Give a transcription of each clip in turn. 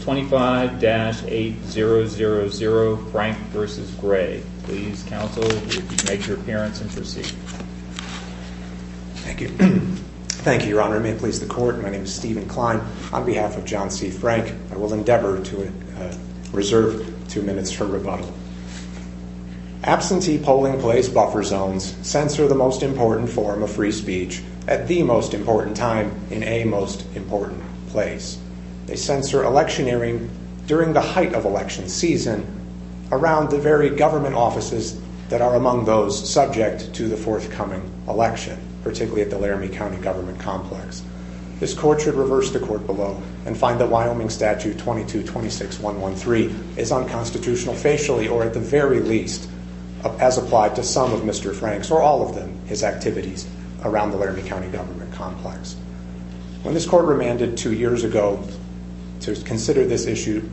25-800-Frank v. Gray Absentee polling place buffer zones censor the most important form of free speech at the most important time in a most important place. They censor electioneering during the height of election season around the very government offices that are among those subject to the forthcoming election, particularly at the Laramie County Government Complex. This Court should reverse the Court below and find that Wyoming Statute 22-26-113 is unconstitutional facially or at the very least as applied to some of Mr. Frank's or all of his activities around the Laramie County Government Complex. When this Court remanded two years ago to consider this issue,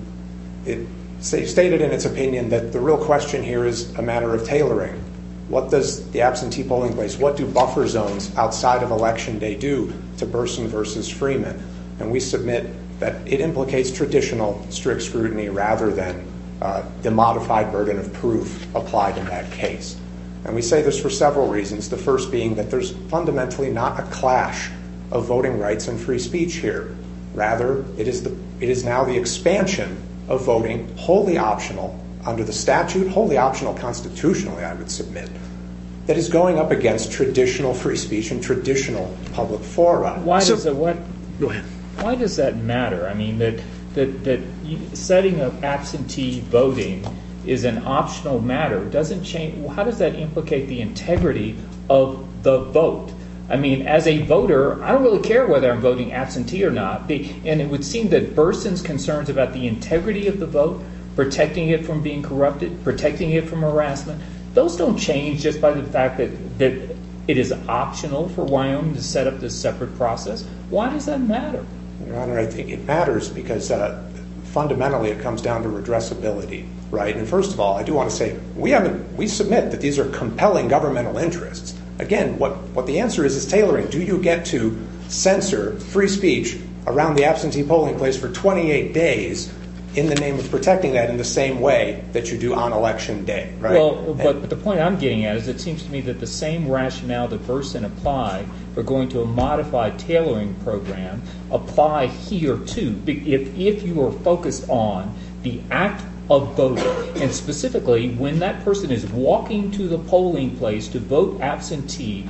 it stated in its opinion that the real question here is a matter of tailoring. What does the absentee polling place, what do buffer zones outside of election day do to Burson v. Freeman? And we submit that it implicates traditional strict scrutiny rather than the modified burden of proof applied in that case. And we say this for several reasons. The first being that there's fundamentally not a clash of voting rights and free speech here. Rather, it is now the expansion of voting wholly optional under the statute, wholly optional constitutionally, I would submit, that is going up against traditional free speech and traditional public forum. Why does that matter? I mean, that setting up absentee voting is an optional matter. How does that implicate the integrity of the vote? I mean, as a voter, I don't really care whether I'm voting absentee or not. And it would seem that Burson's concerns about the integrity of the vote, protecting it from being corrupted, protecting it from harassment, those don't change just by the fact that it is optional for Wyoming to set up this separate process. Why does that matter? Your Honor, I think it matters because fundamentally it comes down to redressability, right? I mean, first of all, I do want to say we submit that these are compelling governmental interests. Again, what the answer is is tailoring. Do you get to censor free speech around the absentee polling place for 28 days in the name of protecting that in the same way that you do on election day, right? Well, but the point I'm getting at is it seems to me that the same rationale that Burson applied for going to a modified tailoring program apply here, too. If you were focused on the act of voting, and specifically when that person is walking to the polling place to vote absentee,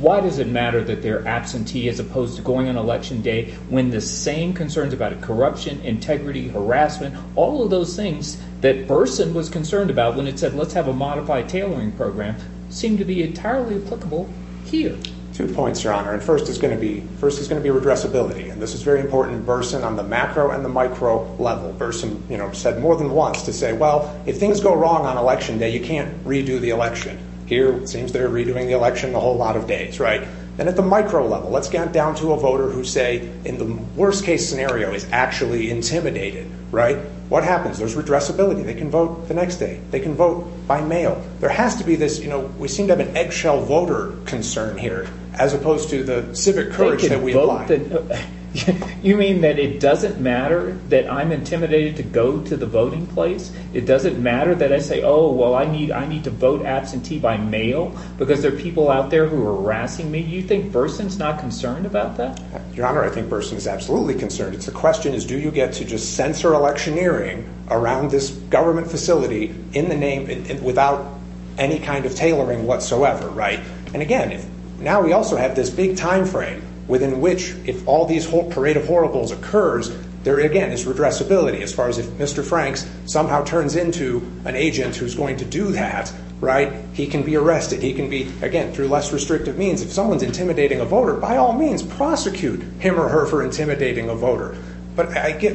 why does it matter that they're absentee as opposed to going on election day when the same concerns about corruption, integrity, harassment, all of those things that Burson was concerned about when it said, let's have a modified tailoring program, seem to be entirely applicable here. Two points, Your Honor. First is going to be redressability, and this is very important in Burson on the macro and the micro level. Burson said more than once to say, well, if things go wrong on election day, you can't redo the election. Here, it seems they're redoing the election a whole lot of days, right? Then at the micro level, let's get down to a voter who say, in the worst case scenario, is actually intimidated, right? What happens? There's redressability. They can vote the next day. They can vote by mail. There has to be this, you know, we seem to have an eggshell voter concern here as opposed to the civic courage that we have. You mean that it doesn't matter that I'm intimidated to go to the voting place? It doesn't matter that I say, oh, well, I need to vote absentee by mail because there are people out there who are harassing me? You think Burson's not concerned about that? Your Honor, I think Burson is absolutely concerned. The question is, do you get to just censor electioneering around this government facility in the name without any kind of tailoring whatsoever, right? And again, now we also have this big timeframe within which, if all these whole parade of horribles occurs, there again is redressability as far as if Mr. Franks somehow turns into an agent who's going to do that, right? He can be arrested. He can be, again, through less restrictive means. If someone's intimidating a voter, by all means, prosecute him or her for intimidating a voter. But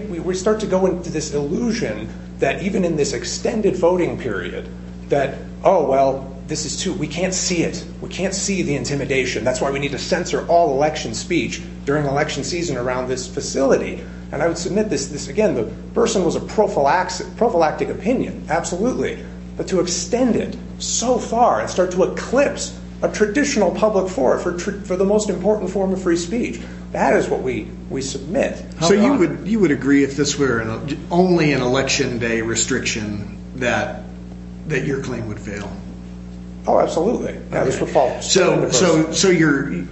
we start to go into this illusion that even in this extended voting period, that oh, well, this is too, we can't see it. We can't see the intimidation. That's why we need to censor all election speech during election season around this And I would submit this, again, that Burson was a prophylactic opinion, absolutely, but to extend it so far and start to eclipse a traditional public forum for the most important form of free speech, that is what we submit. You would agree if this were only an election day restriction that your claim would fail? Oh, absolutely. Yeah, this would fall under Burson.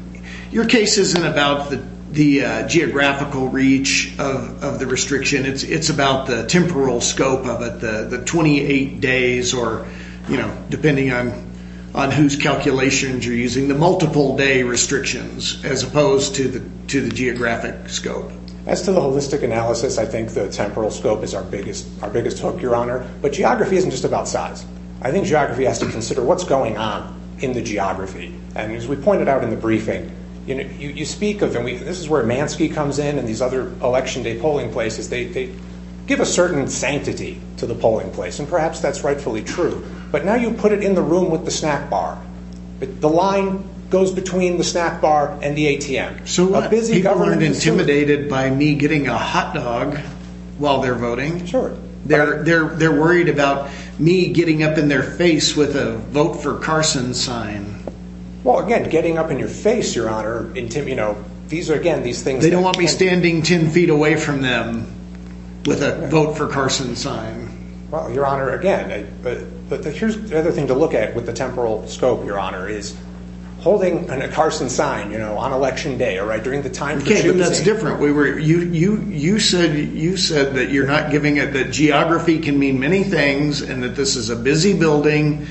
Your case isn't about the geographical reach of the restriction. It's about the temporal scope of it, the 28 days, or depending on whose calculations you're using, the multiple day restrictions, as opposed to the geographic scope. As to the holistic analysis, I think the temporal scope is our biggest hook, your honor. But geography isn't just about size. I think geography has to consider what's going on in the geography. And as we pointed out in the briefing, you speak of, and this is where Mansky comes in and these other election day polling places, they give a certain sanctity to the polling place. And perhaps that's rightfully true. But now you put it in the room with the snack bar. The line goes between the snack bar and the ATM. So people aren't intimidated by me getting a hot dog while they're voting. They're worried about me getting up in their face with a vote for Carson sign. Well, again, getting up in your face, your honor, these are, again, these things... They don't want me standing 10 feet away from them with a vote for Carson sign. Well, your honor, again, here's the other thing to look at with the temporal scope. Your honor is holding a Carson sign, you know, on election day or right during the time. Okay. But that's different. We were, you, you said, you said that you're not giving it, that geography can mean many things and that this is a busy building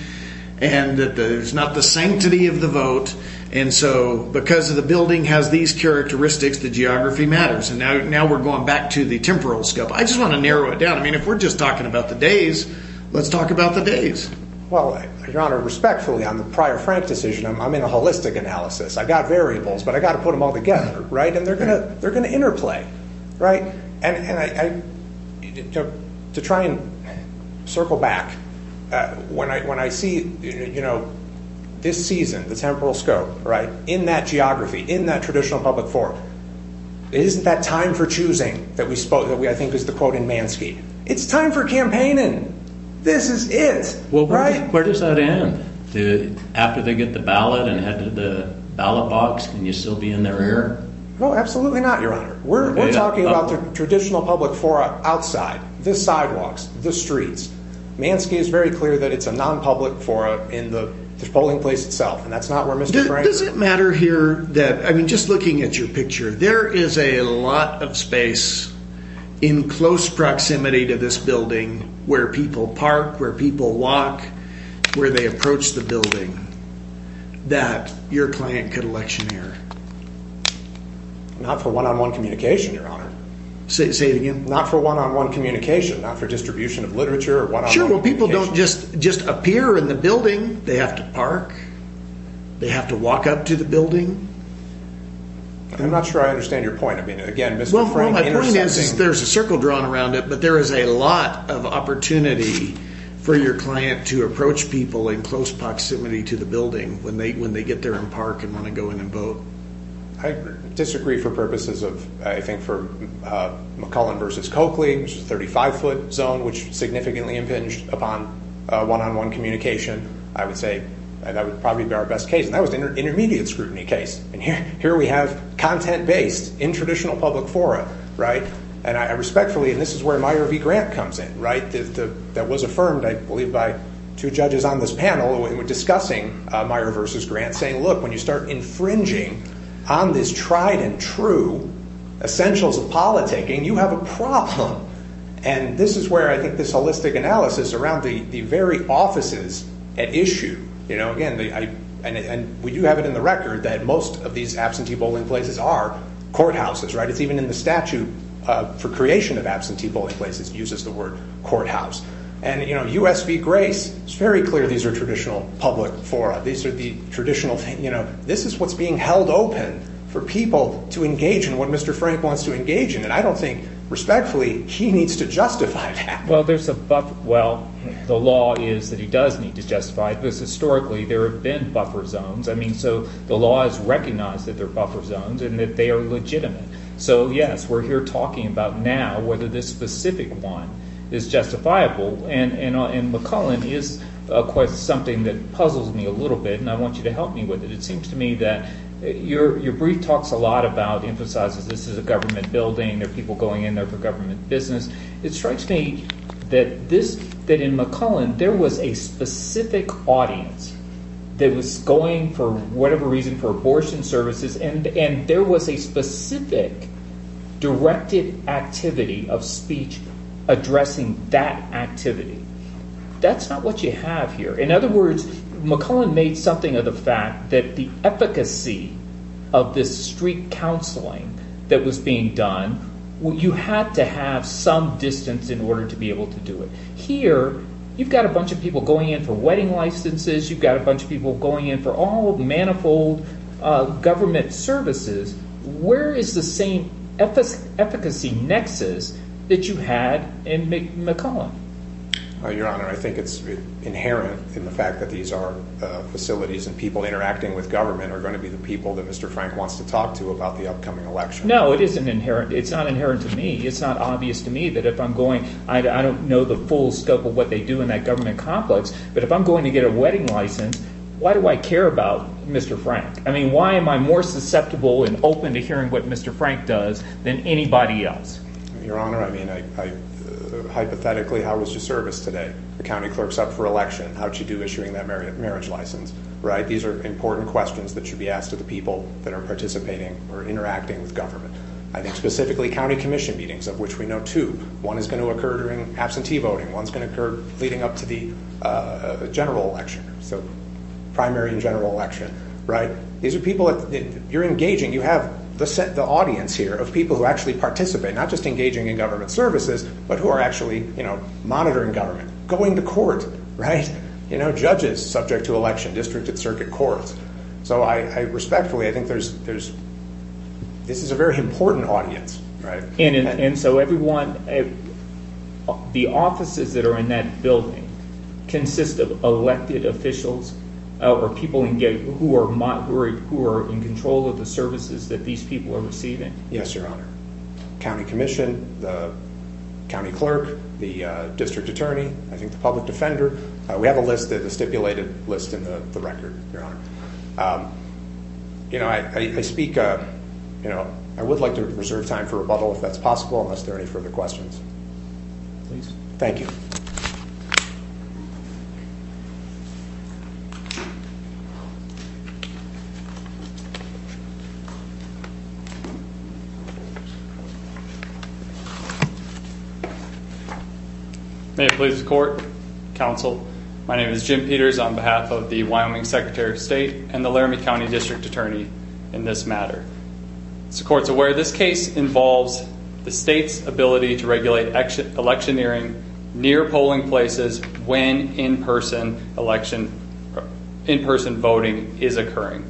and that there's not the sanctity of the vote. And so because of the building has these characteristics, the geography matters. And now, now we're going back to the temporal scope. I just want to narrow it down. I mean, if we're just talking about the days, let's talk about the days. Well, your honor, respectfully on the prior Frank decision, I'm in a holistic analysis. I got variables, but I got to put them all together. Right. And they're going to, they're going to interplay. Right. And, and I, to try and circle back when I, when I see, you know, this season, the temporal scope right in that geography, in that traditional public forum, isn't that time for choosing that we spoke that we, I think is the quote in Mansky, it's time for campaigning. This is it. Well, right. Where does that end? After they get the ballot and head to the ballot box, can you still be in their ear? No, absolutely not. Your honor. We're talking about the traditional public forum outside the sidewalks, the streets. Mansky is very clear that it's a non-public forum in the polling place itself. And that's not where Mr. Frank. Does it matter here that, I mean, just looking at your picture, there is a lot of space in close proximity to this building where people park, where people walk, where they approach the building that your client could election here. Not for one-on-one communication. Your honor. Say, say it again. Not for one-on-one communication, not for distribution of literature or one-on-one communication. Well, people don't just, just appear in the building. They have to park. They have to walk up to the building. I'm not sure I understand your point. Well, my point is, there's a circle drawn around it, but there is a lot of opportunity for your client to approach people in close proximity to the building when they, when they get there and park and want to go in and vote. I disagree for purposes of, I think for McCullen versus Coakley, which is a 35 foot zone, which significantly impinged upon a one-on-one communication. I would say that would probably be our best case. And that was an intermediate scrutiny case. And here, here we have content-based in traditional public forum, right? And I respectfully, and this is where Meyer v. Grant comes in, right? That was affirmed, I believe, by two judges on this panel who were discussing Meyer versus Grant saying, look, when you start infringing on this tried and true essentials of politicking, you have a problem. And this is where I think this holistic analysis around the, the very offices at issue, you know, again, I, and we do have it in the record that most of these absentee bowling places are courthouses, right? It's even in the statute for creation of absentee bowling places, it uses the word courthouse. And you know, U.S. v. Grace, it's very clear these are traditional public fora. These are the traditional, you know, this is what's being held open for people to engage in what Mr. Frank wants to engage in. And I don't think, respectfully, he needs to justify that. Well, there's a, well, the law is that he does need to justify it. Because, historically, there have been buffer zones. I mean, so the law has recognized that there are buffer zones and that they are legitimate. So yes, we're here talking about now whether this specific one is justifiable. And McCullen is, of course, something that puzzles me a little bit, and I want you to help me with it. It seems to me that your brief talks a lot about, emphasizes this is a government building, there are people going in there for government business. It strikes me that this, that in McCullen, there was a specific audience that was going for whatever reason, for abortion services, and there was a specific directed activity of speech addressing that activity. That's not what you have here. In other words, McCullen made something of the fact that the efficacy of this street that was being done, you had to have some distance in order to be able to do it. Here, you've got a bunch of people going in for wedding licenses, you've got a bunch of people going in for all of the manifold government services. Where is the same efficacy nexus that you had in McCullen? Your Honor, I think it's inherent in the fact that these are facilities and people interacting with government are going to be the people that Mr. Frank wants to talk to about the upcoming election. No, it isn't inherent. It's not inherent to me. It's not obvious to me that if I'm going, I don't know the full scope of what they do in that government complex, but if I'm going to get a wedding license, why do I care about Mr. Frank? I mean, why am I more susceptible and open to hearing what Mr. Frank does than anybody else? Your Honor, I mean, hypothetically, how was your service today? The county clerk's up for election. How'd she do issuing that marriage license? These are important questions that should be asked to the people that are participating or interacting with government. I think specifically county commission meetings, of which we know two, one is going to occur during absentee voting. One's going to occur leading up to the general election, so primary and general election. These are people that you're engaging. You have the audience here of people who actually participate, not just engaging in government services, but who are actually monitoring government, going to court, judges subject to election, district and circuit courts. So I respectfully, I think there's, this is a very important audience, right? And so everyone, the offices that are in that building consist of elected officials or people who are in control of the services that these people are receiving? Yes, Your Honor. County commission, the county clerk, the district attorney, I think the public defender. We have a list of the stipulated list in the record, Your Honor. You know, I speak, you know, I would like to reserve time for rebuttal if that's possible, unless there are any further questions, please. Thank you. May it please the court, counsel, my name is Jim Peters on behalf of the Wyoming Secretary of State and the Laramie County District Attorney in this matter. As the court's aware, this case involves the state's ability to regulate electioneering near polling places when in-person election, in-person voting is occurring.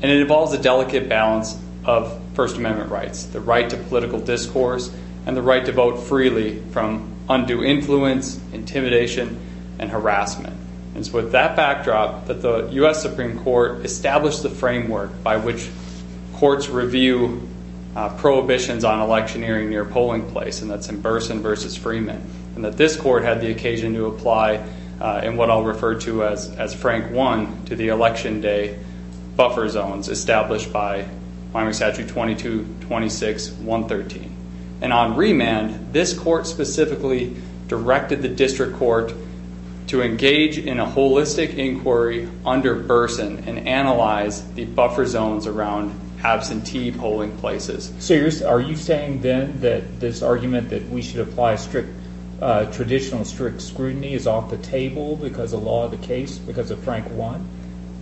And it involves a delicate balance of first amendment rights, the right to political discourse and the right to vote freely from undue influence, intimidation and harassment. And so with that backdrop that the U.S. Supreme Court established the framework by which courts review prohibitions on electioneering near polling place, and that's in Burson versus Freeman. And that this court had the occasion to apply in what I'll refer to as Frank 1 to the election day buffer zones established by Wyoming Statute 22-26-113. And on remand, this court specifically directed the district court to engage in a holistic inquiry under Burson and analyze the buffer zones around absentee polling places. So are you saying then that this argument that we should apply strict, traditional strict scrutiny is off the table because of law of the case, because of Frank 1?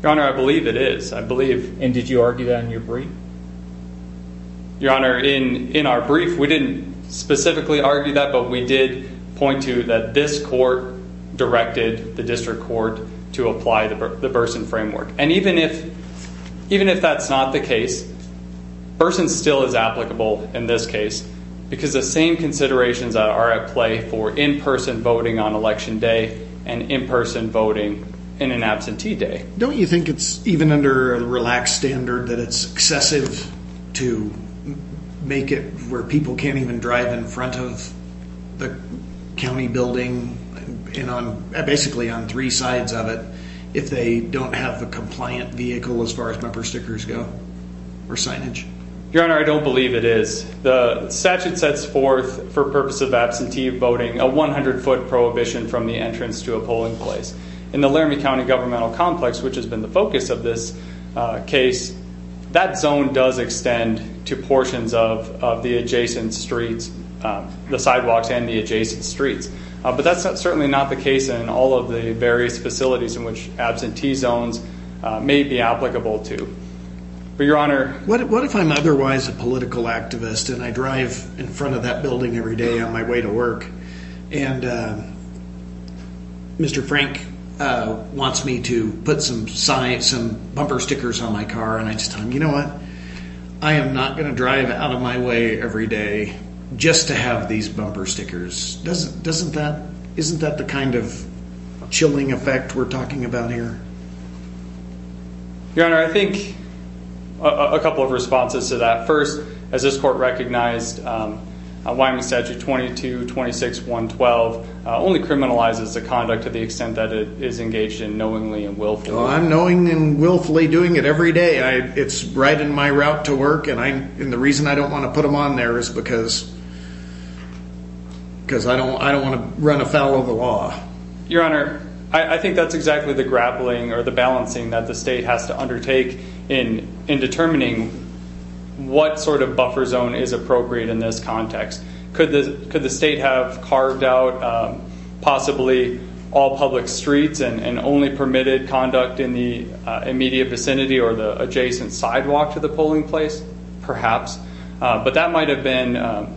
Your Honor, I believe it is. I believe. And did you argue that in your brief? Your Honor, in our brief, we didn't specifically argue that, but we did point to that this court directed the district court to apply the Burson framework. And even if that's not the case, Burson still is applicable in this case because the same considerations are at play for in-person voting on election day and in-person voting in an absentee day. Don't you think it's even under the relaxed standard that it's excessive to make it where people can't even drive in front of the county building and on basically on three sides of it if they don't have a compliant vehicle as far as member stickers go or signage? Your Honor, I don't believe it is. The statute sets forth for purpose of absentee voting a 100-foot prohibition from the entrance to a polling place. In the Laramie County governmental complex, which has been the focus of this case, that zone does extend to portions of the adjacent streets, the sidewalks and the adjacent streets. But that's certainly not the case in all of the various facilities in which absentee zones may be applicable to. But Your Honor, what if I'm otherwise a political activist and I drive in front of that building every day on my way to work and Mr. Frank wants me to put some bumper stickers on my car and I just tell him, you know what, I am not going to drive out of my way every day just to have these bumper stickers. Doesn't that, isn't that the kind of chilling effect we're talking about here? Your Honor, I think a couple of responses to that. First, as this court recognized, Wyoming Statute 22-26-112 only criminalizes the conduct to the extent that it is engaged in knowingly and willfully. I'm knowingly and willfully doing it every day. It's right in my route to work and the reason I don't want to put them on there is because I don't want to run afoul of the law. Your Honor, I think that's exactly the grappling or the balancing that the state has to undertake in determining what sort of buffer zone is appropriate in this context. Could the state have carved out possibly all public streets and only permitted conduct in the immediate vicinity or the adjacent sidewalk to the polling place, perhaps. But that might have been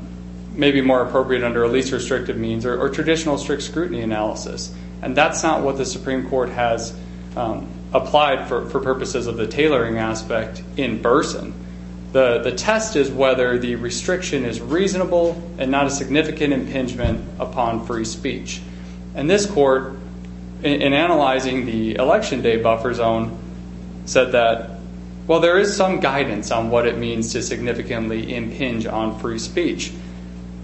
maybe more appropriate under a least restrictive means or traditional strict scrutiny analysis. And that's not what the Supreme Court has applied for purposes of the tailoring aspect in Burson. The test is whether the restriction is reasonable and not a significant impingement upon free speech. And this court, in analyzing the election day buffer zone, said that, well, there is some guidance on what it means to significantly impinge on free speech.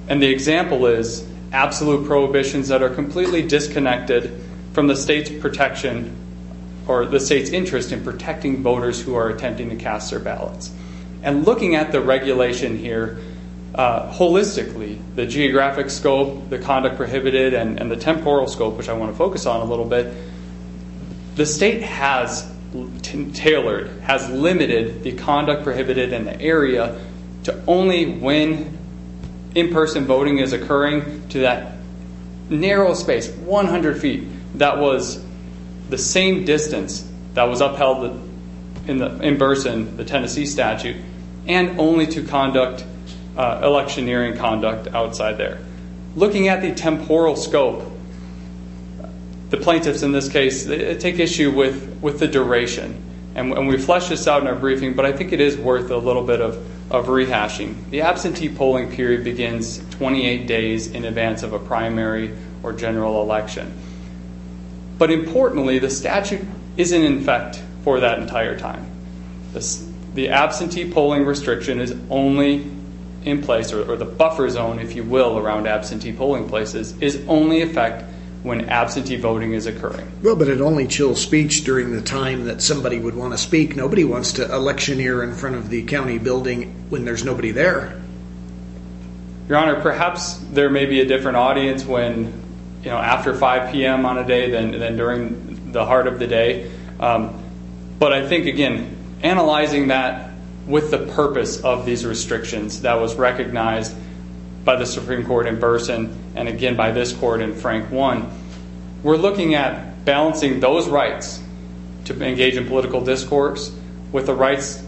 And the example is absolute prohibitions that are completely disconnected from the state's protection or the state's interest in protecting voters who are attempting to cast their ballots. And looking at the regulation here holistically, the geographic scope, the conduct prohibited and the temporal scope, which I want to focus on a little bit, the state has tailored, has limited the conduct prohibited in the area to only when in-person voting is occurring to that narrow space, 100 feet. That was the same distance that was upheld in Burson, the Tennessee statute, and only to conduct electioneering conduct outside there. Looking at the temporal scope, the plaintiffs in this case take issue with the duration. And we fleshed this out in our briefing, but I think it is worth a little bit of rehashing. The absentee polling period begins 28 days in advance of a primary or general election. But importantly, the statute isn't in effect for that entire time. The absentee polling restriction is only in place, or the buffer zone, if you will, around absentee polling places is only in effect when absentee voting is occurring. Well, but it only chills speech during the time that somebody would want to speak. Nobody wants to electioneer in front of the county building when there's nobody there. Your Honor, perhaps there may be a different audience when, you know, after 5 p.m. on a day than during the heart of the day. But I think, again, analyzing that with the purpose of these restrictions that was recognized by the Supreme Court in Burson, and again by this Court in Frank 1, we're looking at balancing those rights to engage in political discourse with the rights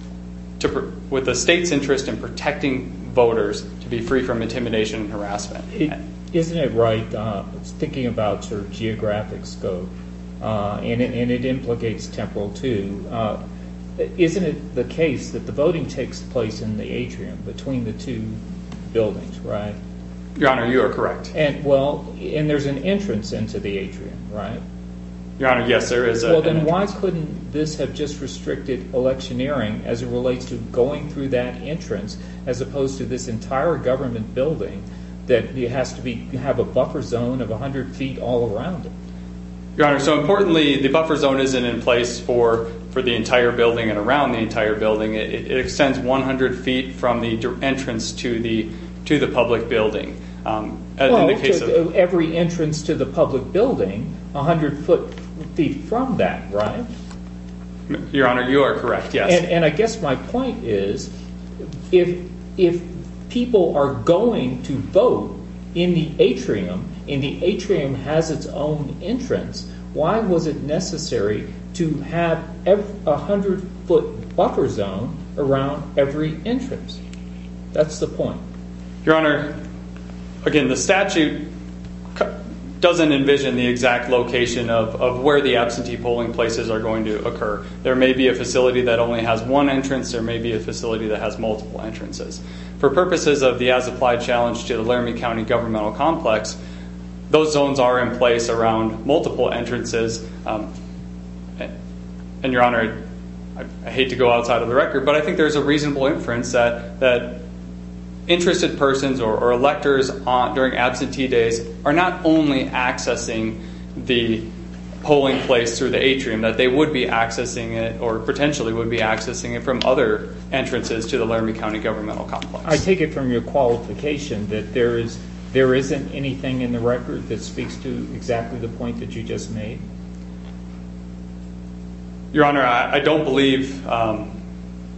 to, with the state's interest in protecting voters to be free from intimidation and harassment. Isn't it right, thinking about sort of geographic scope, and it implies that Temporal 2, isn't it the case that the voting takes place in the atrium between the two buildings, right? Your Honor, you are correct. And well, and there's an entrance into the atrium, right? Your Honor, yes, there is. Well, then why couldn't this have just restricted electioneering as it relates to going through that entrance, as opposed to this entire government building that has to have a buffer zone of 100 feet all around it? Your Honor, so importantly, the buffer zone isn't in place for the entire building and around the entire building. It extends 100 feet from the entrance to the public building. Every entrance to the public building, 100 feet from that, right? Your Honor, you are correct, yes. And I guess my point is, if people are going to vote in the atrium, and the atrium has its own entrance, why was it necessary to have a 100-foot buffer zone around every entrance? That's the point. Your Honor, again, the statute doesn't envision the exact location of where the absentee polling places are going to occur. There may be a facility that only has one entrance. There may be a facility that has multiple entrances. For purposes of the as-applied challenge to the Laramie County governmental complex, those zones are in place around multiple entrances. And Your Honor, I hate to go outside of the record, but I think there's a reasonable inference that interested persons or electors during absentee days are not only accessing the polling place through the atrium, that they would be accessing it or potentially would be accessing it from other entrances to the Laramie County governmental complex. I take it from your qualification that there isn't anything in the record that speaks to exactly the point that you just made? Your Honor, I don't believe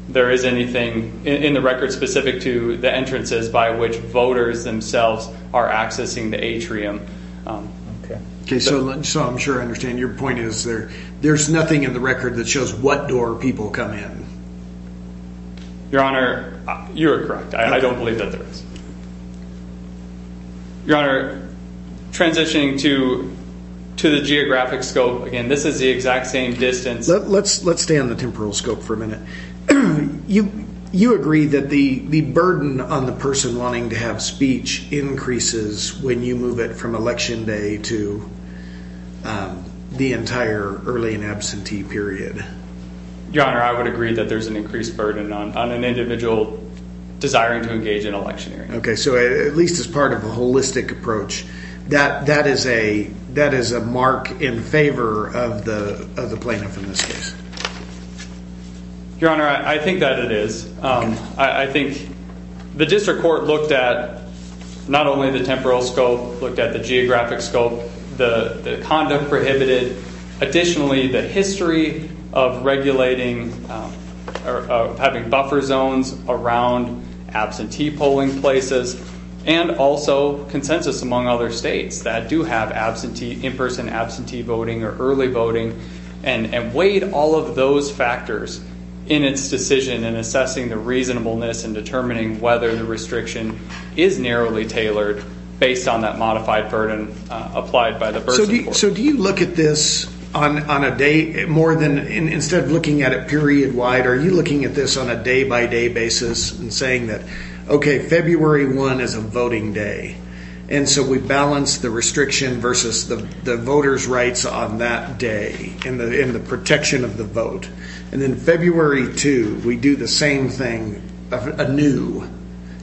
there is anything in the record specific to the entrances by which voters themselves are accessing the atrium. Okay, so I'm sure I understand. Your point is there's nothing in the record that shows what door people come in. Your Honor, you are correct. I don't believe that there is. Your Honor, transitioning to the geographic scope. Again, this is the exact same distance. Let's stay on the temporal scope for a minute. You agree that the burden on the person wanting to have speech increases when you move it from election day to the entire early in absentee period? Your Honor, I would agree that there's an increased burden on an individual desiring to engage in electioneering. Okay, so at least as part of a holistic approach, that is a mark in favor of the plaintiff in this case. Your Honor, I think that it is. I think the district court looked at not only the temporal scope, looked at the geographic scope, the conduct prohibited. Additionally, the history of regulating or having buffer zones around absentee polling places and also consensus among other states that do have in-person absentee voting or early voting and weighed all of those factors in its decision in assessing the reasonableness and determining whether the restriction is narrowly tailored based on that modified burden applied by the person. So do you look at this on a day more than instead of looking at it period wide, are you looking at this on a day-by-day basis and saying that, okay, February 1 is a voting day and so we balance the restriction versus the voters' rights on that day in the protection of the vote. And then February 2, we do the same thing anew.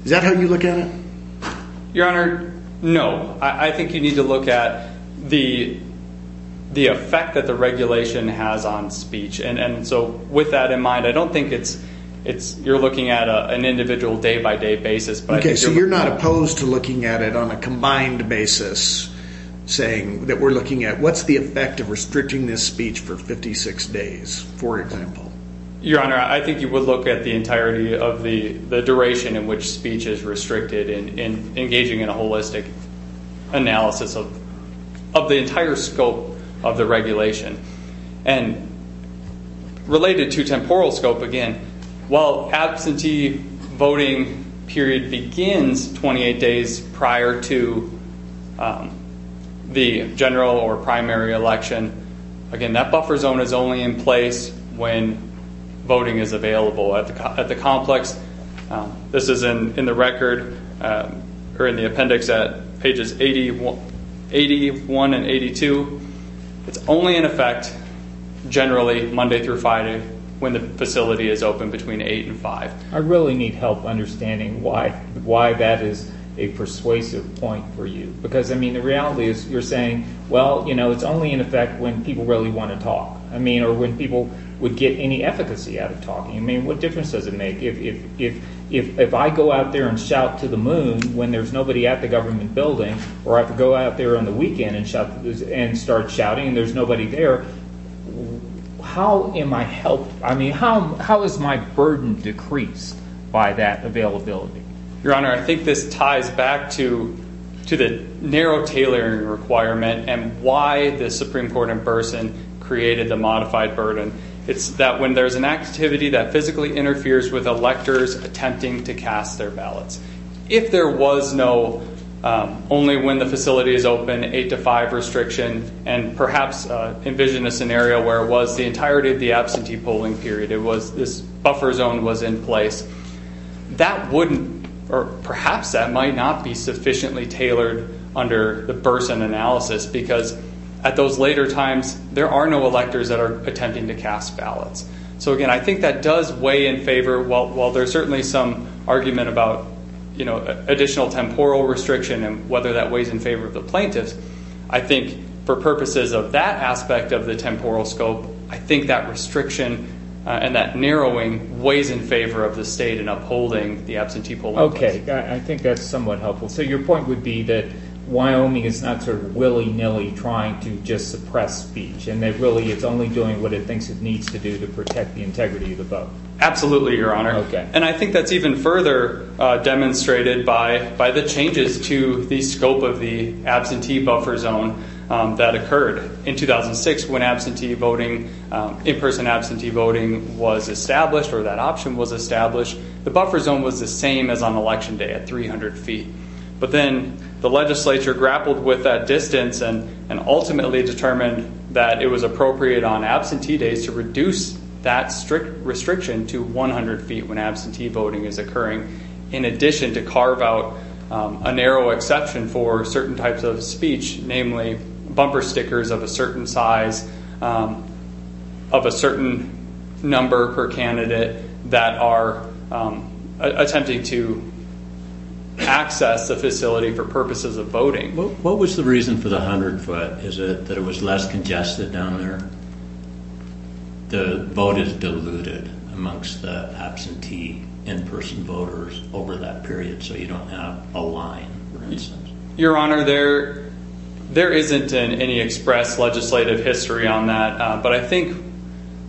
Is that how you look at it? Your Honor, no. I think you need to look at the effect that the regulation has on speech. And so with that in mind, I don't think you're looking at an individual day-by-day basis. Okay, so you're not opposed to looking at it on a combined basis saying that we're at what's the effect of restricting this speech for 56 days, for example? Your Honor, I think you would look at the entirety of the duration in which speech is restricted and engaging in a holistic analysis of the entire scope of the regulation. And related to temporal scope again, while absentee voting period begins 28 days prior to the general or primary election, again, that buffer zone is only in place when voting is available at the complex. This is in the record or in the appendix at pages 81 and 82. It's only in effect generally Monday through Friday when the facility is open between 8 and 5. I really need help understanding why that is a persuasive point for you. Because, I mean, the reality is you're saying, well, you know, it's only in effect when people really want to talk. I mean, or when people would get any efficacy out of talking. I mean, what difference does it make if I go out there and shout to the moon when there's nobody at the government building, or I could go out there on the weekend and start shouting and there's nobody there, how am I helped? I mean, how is my burden decreased by that availability? Your Honor, I think this ties back to the narrow tailoring requirement and why the Supreme Court in person created the modified burden. It's that when there's an activity that physically interferes with electors attempting to cast their ballots. If there was no only when the facility is open, 8 to 5 restriction, and perhaps envision a scenario where it was the entirety of the absentee polling period, it was this buffer zone was in place, that wouldn't, or perhaps that might not be sufficiently tailored under the person analysis. Because at those later times, there are no electors that are attempting to cast ballots. So again, I think that does weigh in favor, while there's certainly some argument about, you know, additional temporal restriction and whether that weighs in favor of the plaintiffs, I think for purposes of that aspect of the temporal scope, I think that restriction and that narrowing weighs in favor of the state and upholding the absentee polling. Okay, I think that's somewhat helpful. So your point would be that Wyoming is not sort of willy nilly trying to just suppress speech and that really it's only doing what it thinks it needs to do to protect the integrity of the vote. Absolutely, Your Honor. Okay. And I think that's even further demonstrated by the changes to the scope of the absentee buffer zone that occurred in 2006 when absentee voting, in-person absentee voting was established or that option was established. The buffer zone was the same as on election day at 300 feet. But then the legislature grappled with that distance and ultimately determined that it was appropriate on absentee days to reduce that strict restriction to 100 feet when absentee voting is occurring. In addition to carve out a narrow exception for certain types of speech, namely bumper stickers of a certain size, of a certain number per candidate that are attempting to access the facility for purposes of voting. What was the reason for the 100 foot? Is it that it was less congested down there? The vote is diluted amongst the absentee in-person voters over that period, so you don't have a line, for instance. Your Honor, there isn't any express legislative history on that. But I think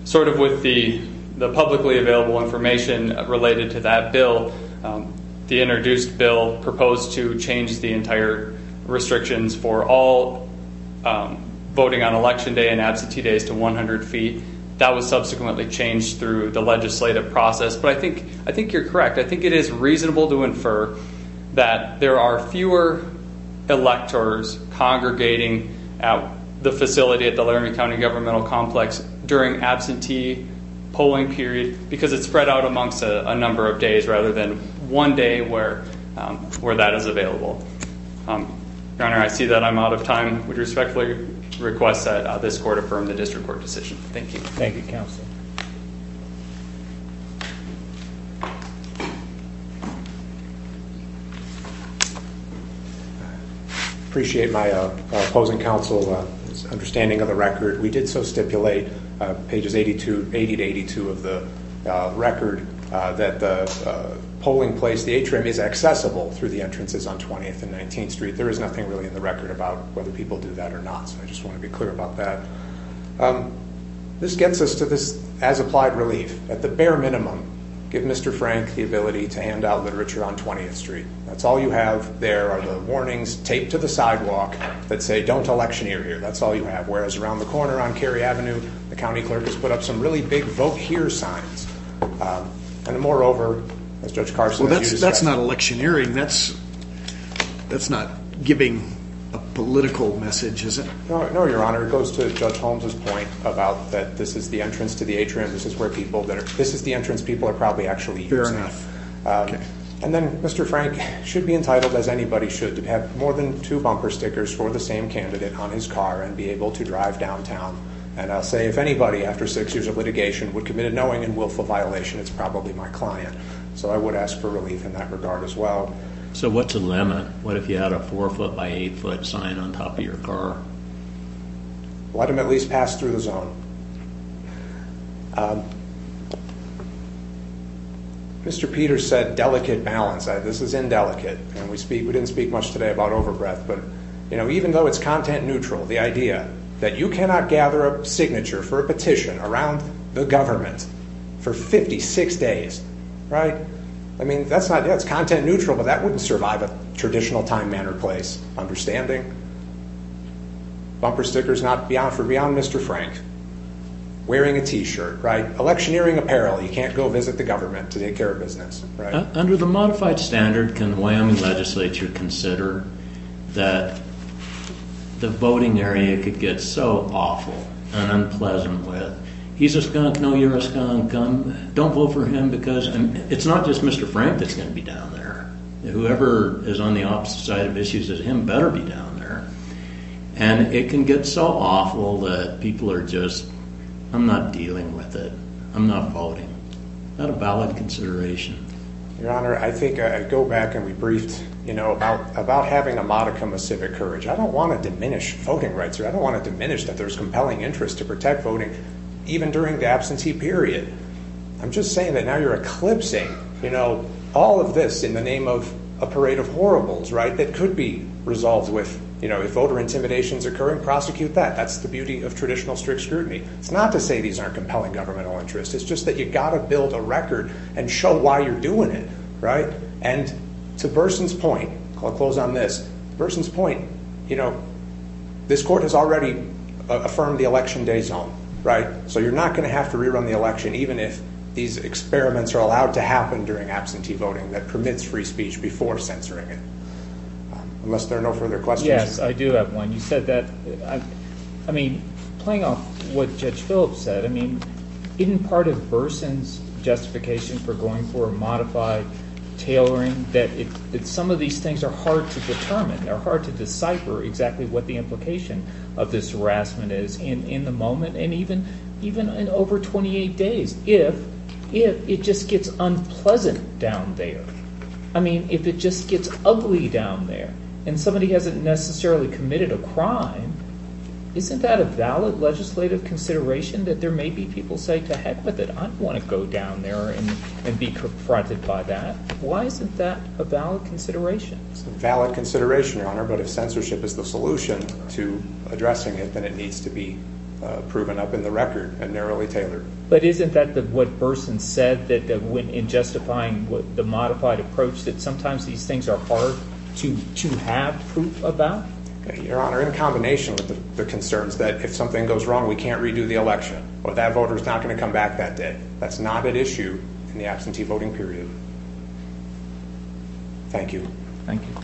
sort of with the publicly available information related to that bill, the introduced bill proposed to change the entire restrictions for all voting on election day and absentee days to 100 feet. That was subsequently changed through the legislative process. But I think you're correct. I think it is reasonable to infer that there are fewer electors congregating at the facility at the Laramie County Governmental Complex during absentee polling period because it's spread out amongst a number of days rather than one day where that is available. Your Honor, I see that I'm out of time. Would respectfully request that this court affirm the district court decision. Thank you. Thank you, counsel. Appreciate my opposing counsel's understanding of the record. We did so stipulate, pages 80 to 82 of the record, that the polling place, the atrium is accessible through the entrances on 20th and 19th Street. There is nothing really in the record about whether people do that or not. So I just want to be clear about that. This gets us to this as-applied relief. At the bare minimum, give Mr. Frank the ability to hand out literature on 20th Street. That's all you have there are the warnings taped to the sidewalk that say don't electioneer here. That's all you have. Whereas around the corner on Cary Avenue, the county clerk has put up some really big vote here signs. And moreover, as Judge Carson has used that. That's not electioneering. That's not giving a political message, is it? No, Your Honor. It goes to Judge Holmes's point about that this is the entrance to the atrium. This is the entrance people are probably actually using. Fair enough. And then Mr. Frank should be entitled, as anybody should, to have more than two bumper stickers for the same candidate on his car and be able to drive downtown. And I'll say if anybody after six years of litigation would commit a knowing and willful violation, it's probably my client. So I would ask for relief in that regard as well. So what's the limit? What if you had a four foot by eight foot sign on top of your car? Let him at least pass through the zone. Mr. Peters said delicate balance. This is indelicate and we speak. We didn't speak much today about overbreath, but you know, even though it's content neutral, the idea that you cannot gather a signature for a petition around the government for 56 days, right? I mean, that's not, yeah, it's content neutral, but that wouldn't survive a traditional time manner place. Understanding? Bumper stickers not for beyond Mr. Frank. Wearing a t-shirt, right? Electioneering apparel. You can't go visit the government to take care of business, right? Under the modified standard, can the Wyoming legislature consider that the voting area could get so awful and unpleasant with, he's a skunk, no, you're a skunk, don't vote for him because it's not just Mr. Frank that's going to be down there. Whoever is on the opposite side of issues as him better be down there and it can get so awful that people are just, I'm not dealing with it. I'm not voting. Not a valid consideration. Your honor, I think I go back and we briefed, you know, about, about having a modicum of civic courage. I don't want to diminish voting rights or I don't want to diminish that there's compelling interest to protect voting even during the absentee period. I'm just saying that now you're eclipsing, you know, all of this in the name of a parade of horribles, right? That could be resolved with, you know, if voter intimidation is occurring, prosecute that. That's the beauty of traditional strict scrutiny. It's not to say these aren't compelling governmental interests. It's just that you got to build a record and show why you're doing it, right? And to Burson's point, I'll close on this. Burson's point, you know, this court has already affirmed the election day zone, right? So you're not going to have to rerun the election, even if these experiments are allowed to happen during absentee voting that permits free speech before censoring it. Unless there are no further questions. Yes, I do have one. You said that, I mean, playing off what Judge Phillips said, I mean, in part of Burson's justification for going for a modified tailoring that it's some of these things are hard to They're hard to decipher exactly what the implication of this harassment is in the moment and even in over 28 days, if it just gets unpleasant down there. I mean, if it just gets ugly down there and somebody hasn't necessarily committed a crime, isn't that a valid legislative consideration that there may be people say, to heck with it. I don't want to go down there and be confronted by that. Why isn't that a valid consideration? It's a valid consideration, Your Honor, but if censorship is the solution to addressing it, then it needs to be proven up in the record and narrowly tailored. But isn't that what Burson said that when in justifying the modified approach that sometimes these things are hard to have proof about? Your Honor, in combination with the concerns that if something goes wrong, we can't redo the election or that voter is not going to come back that day. That's not an issue in the absentee voting period. Thank you. Thank you.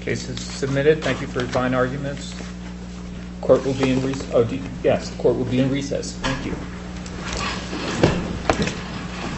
Case is submitted. Thank you for your fine arguments. Court will be in recess. Thank you.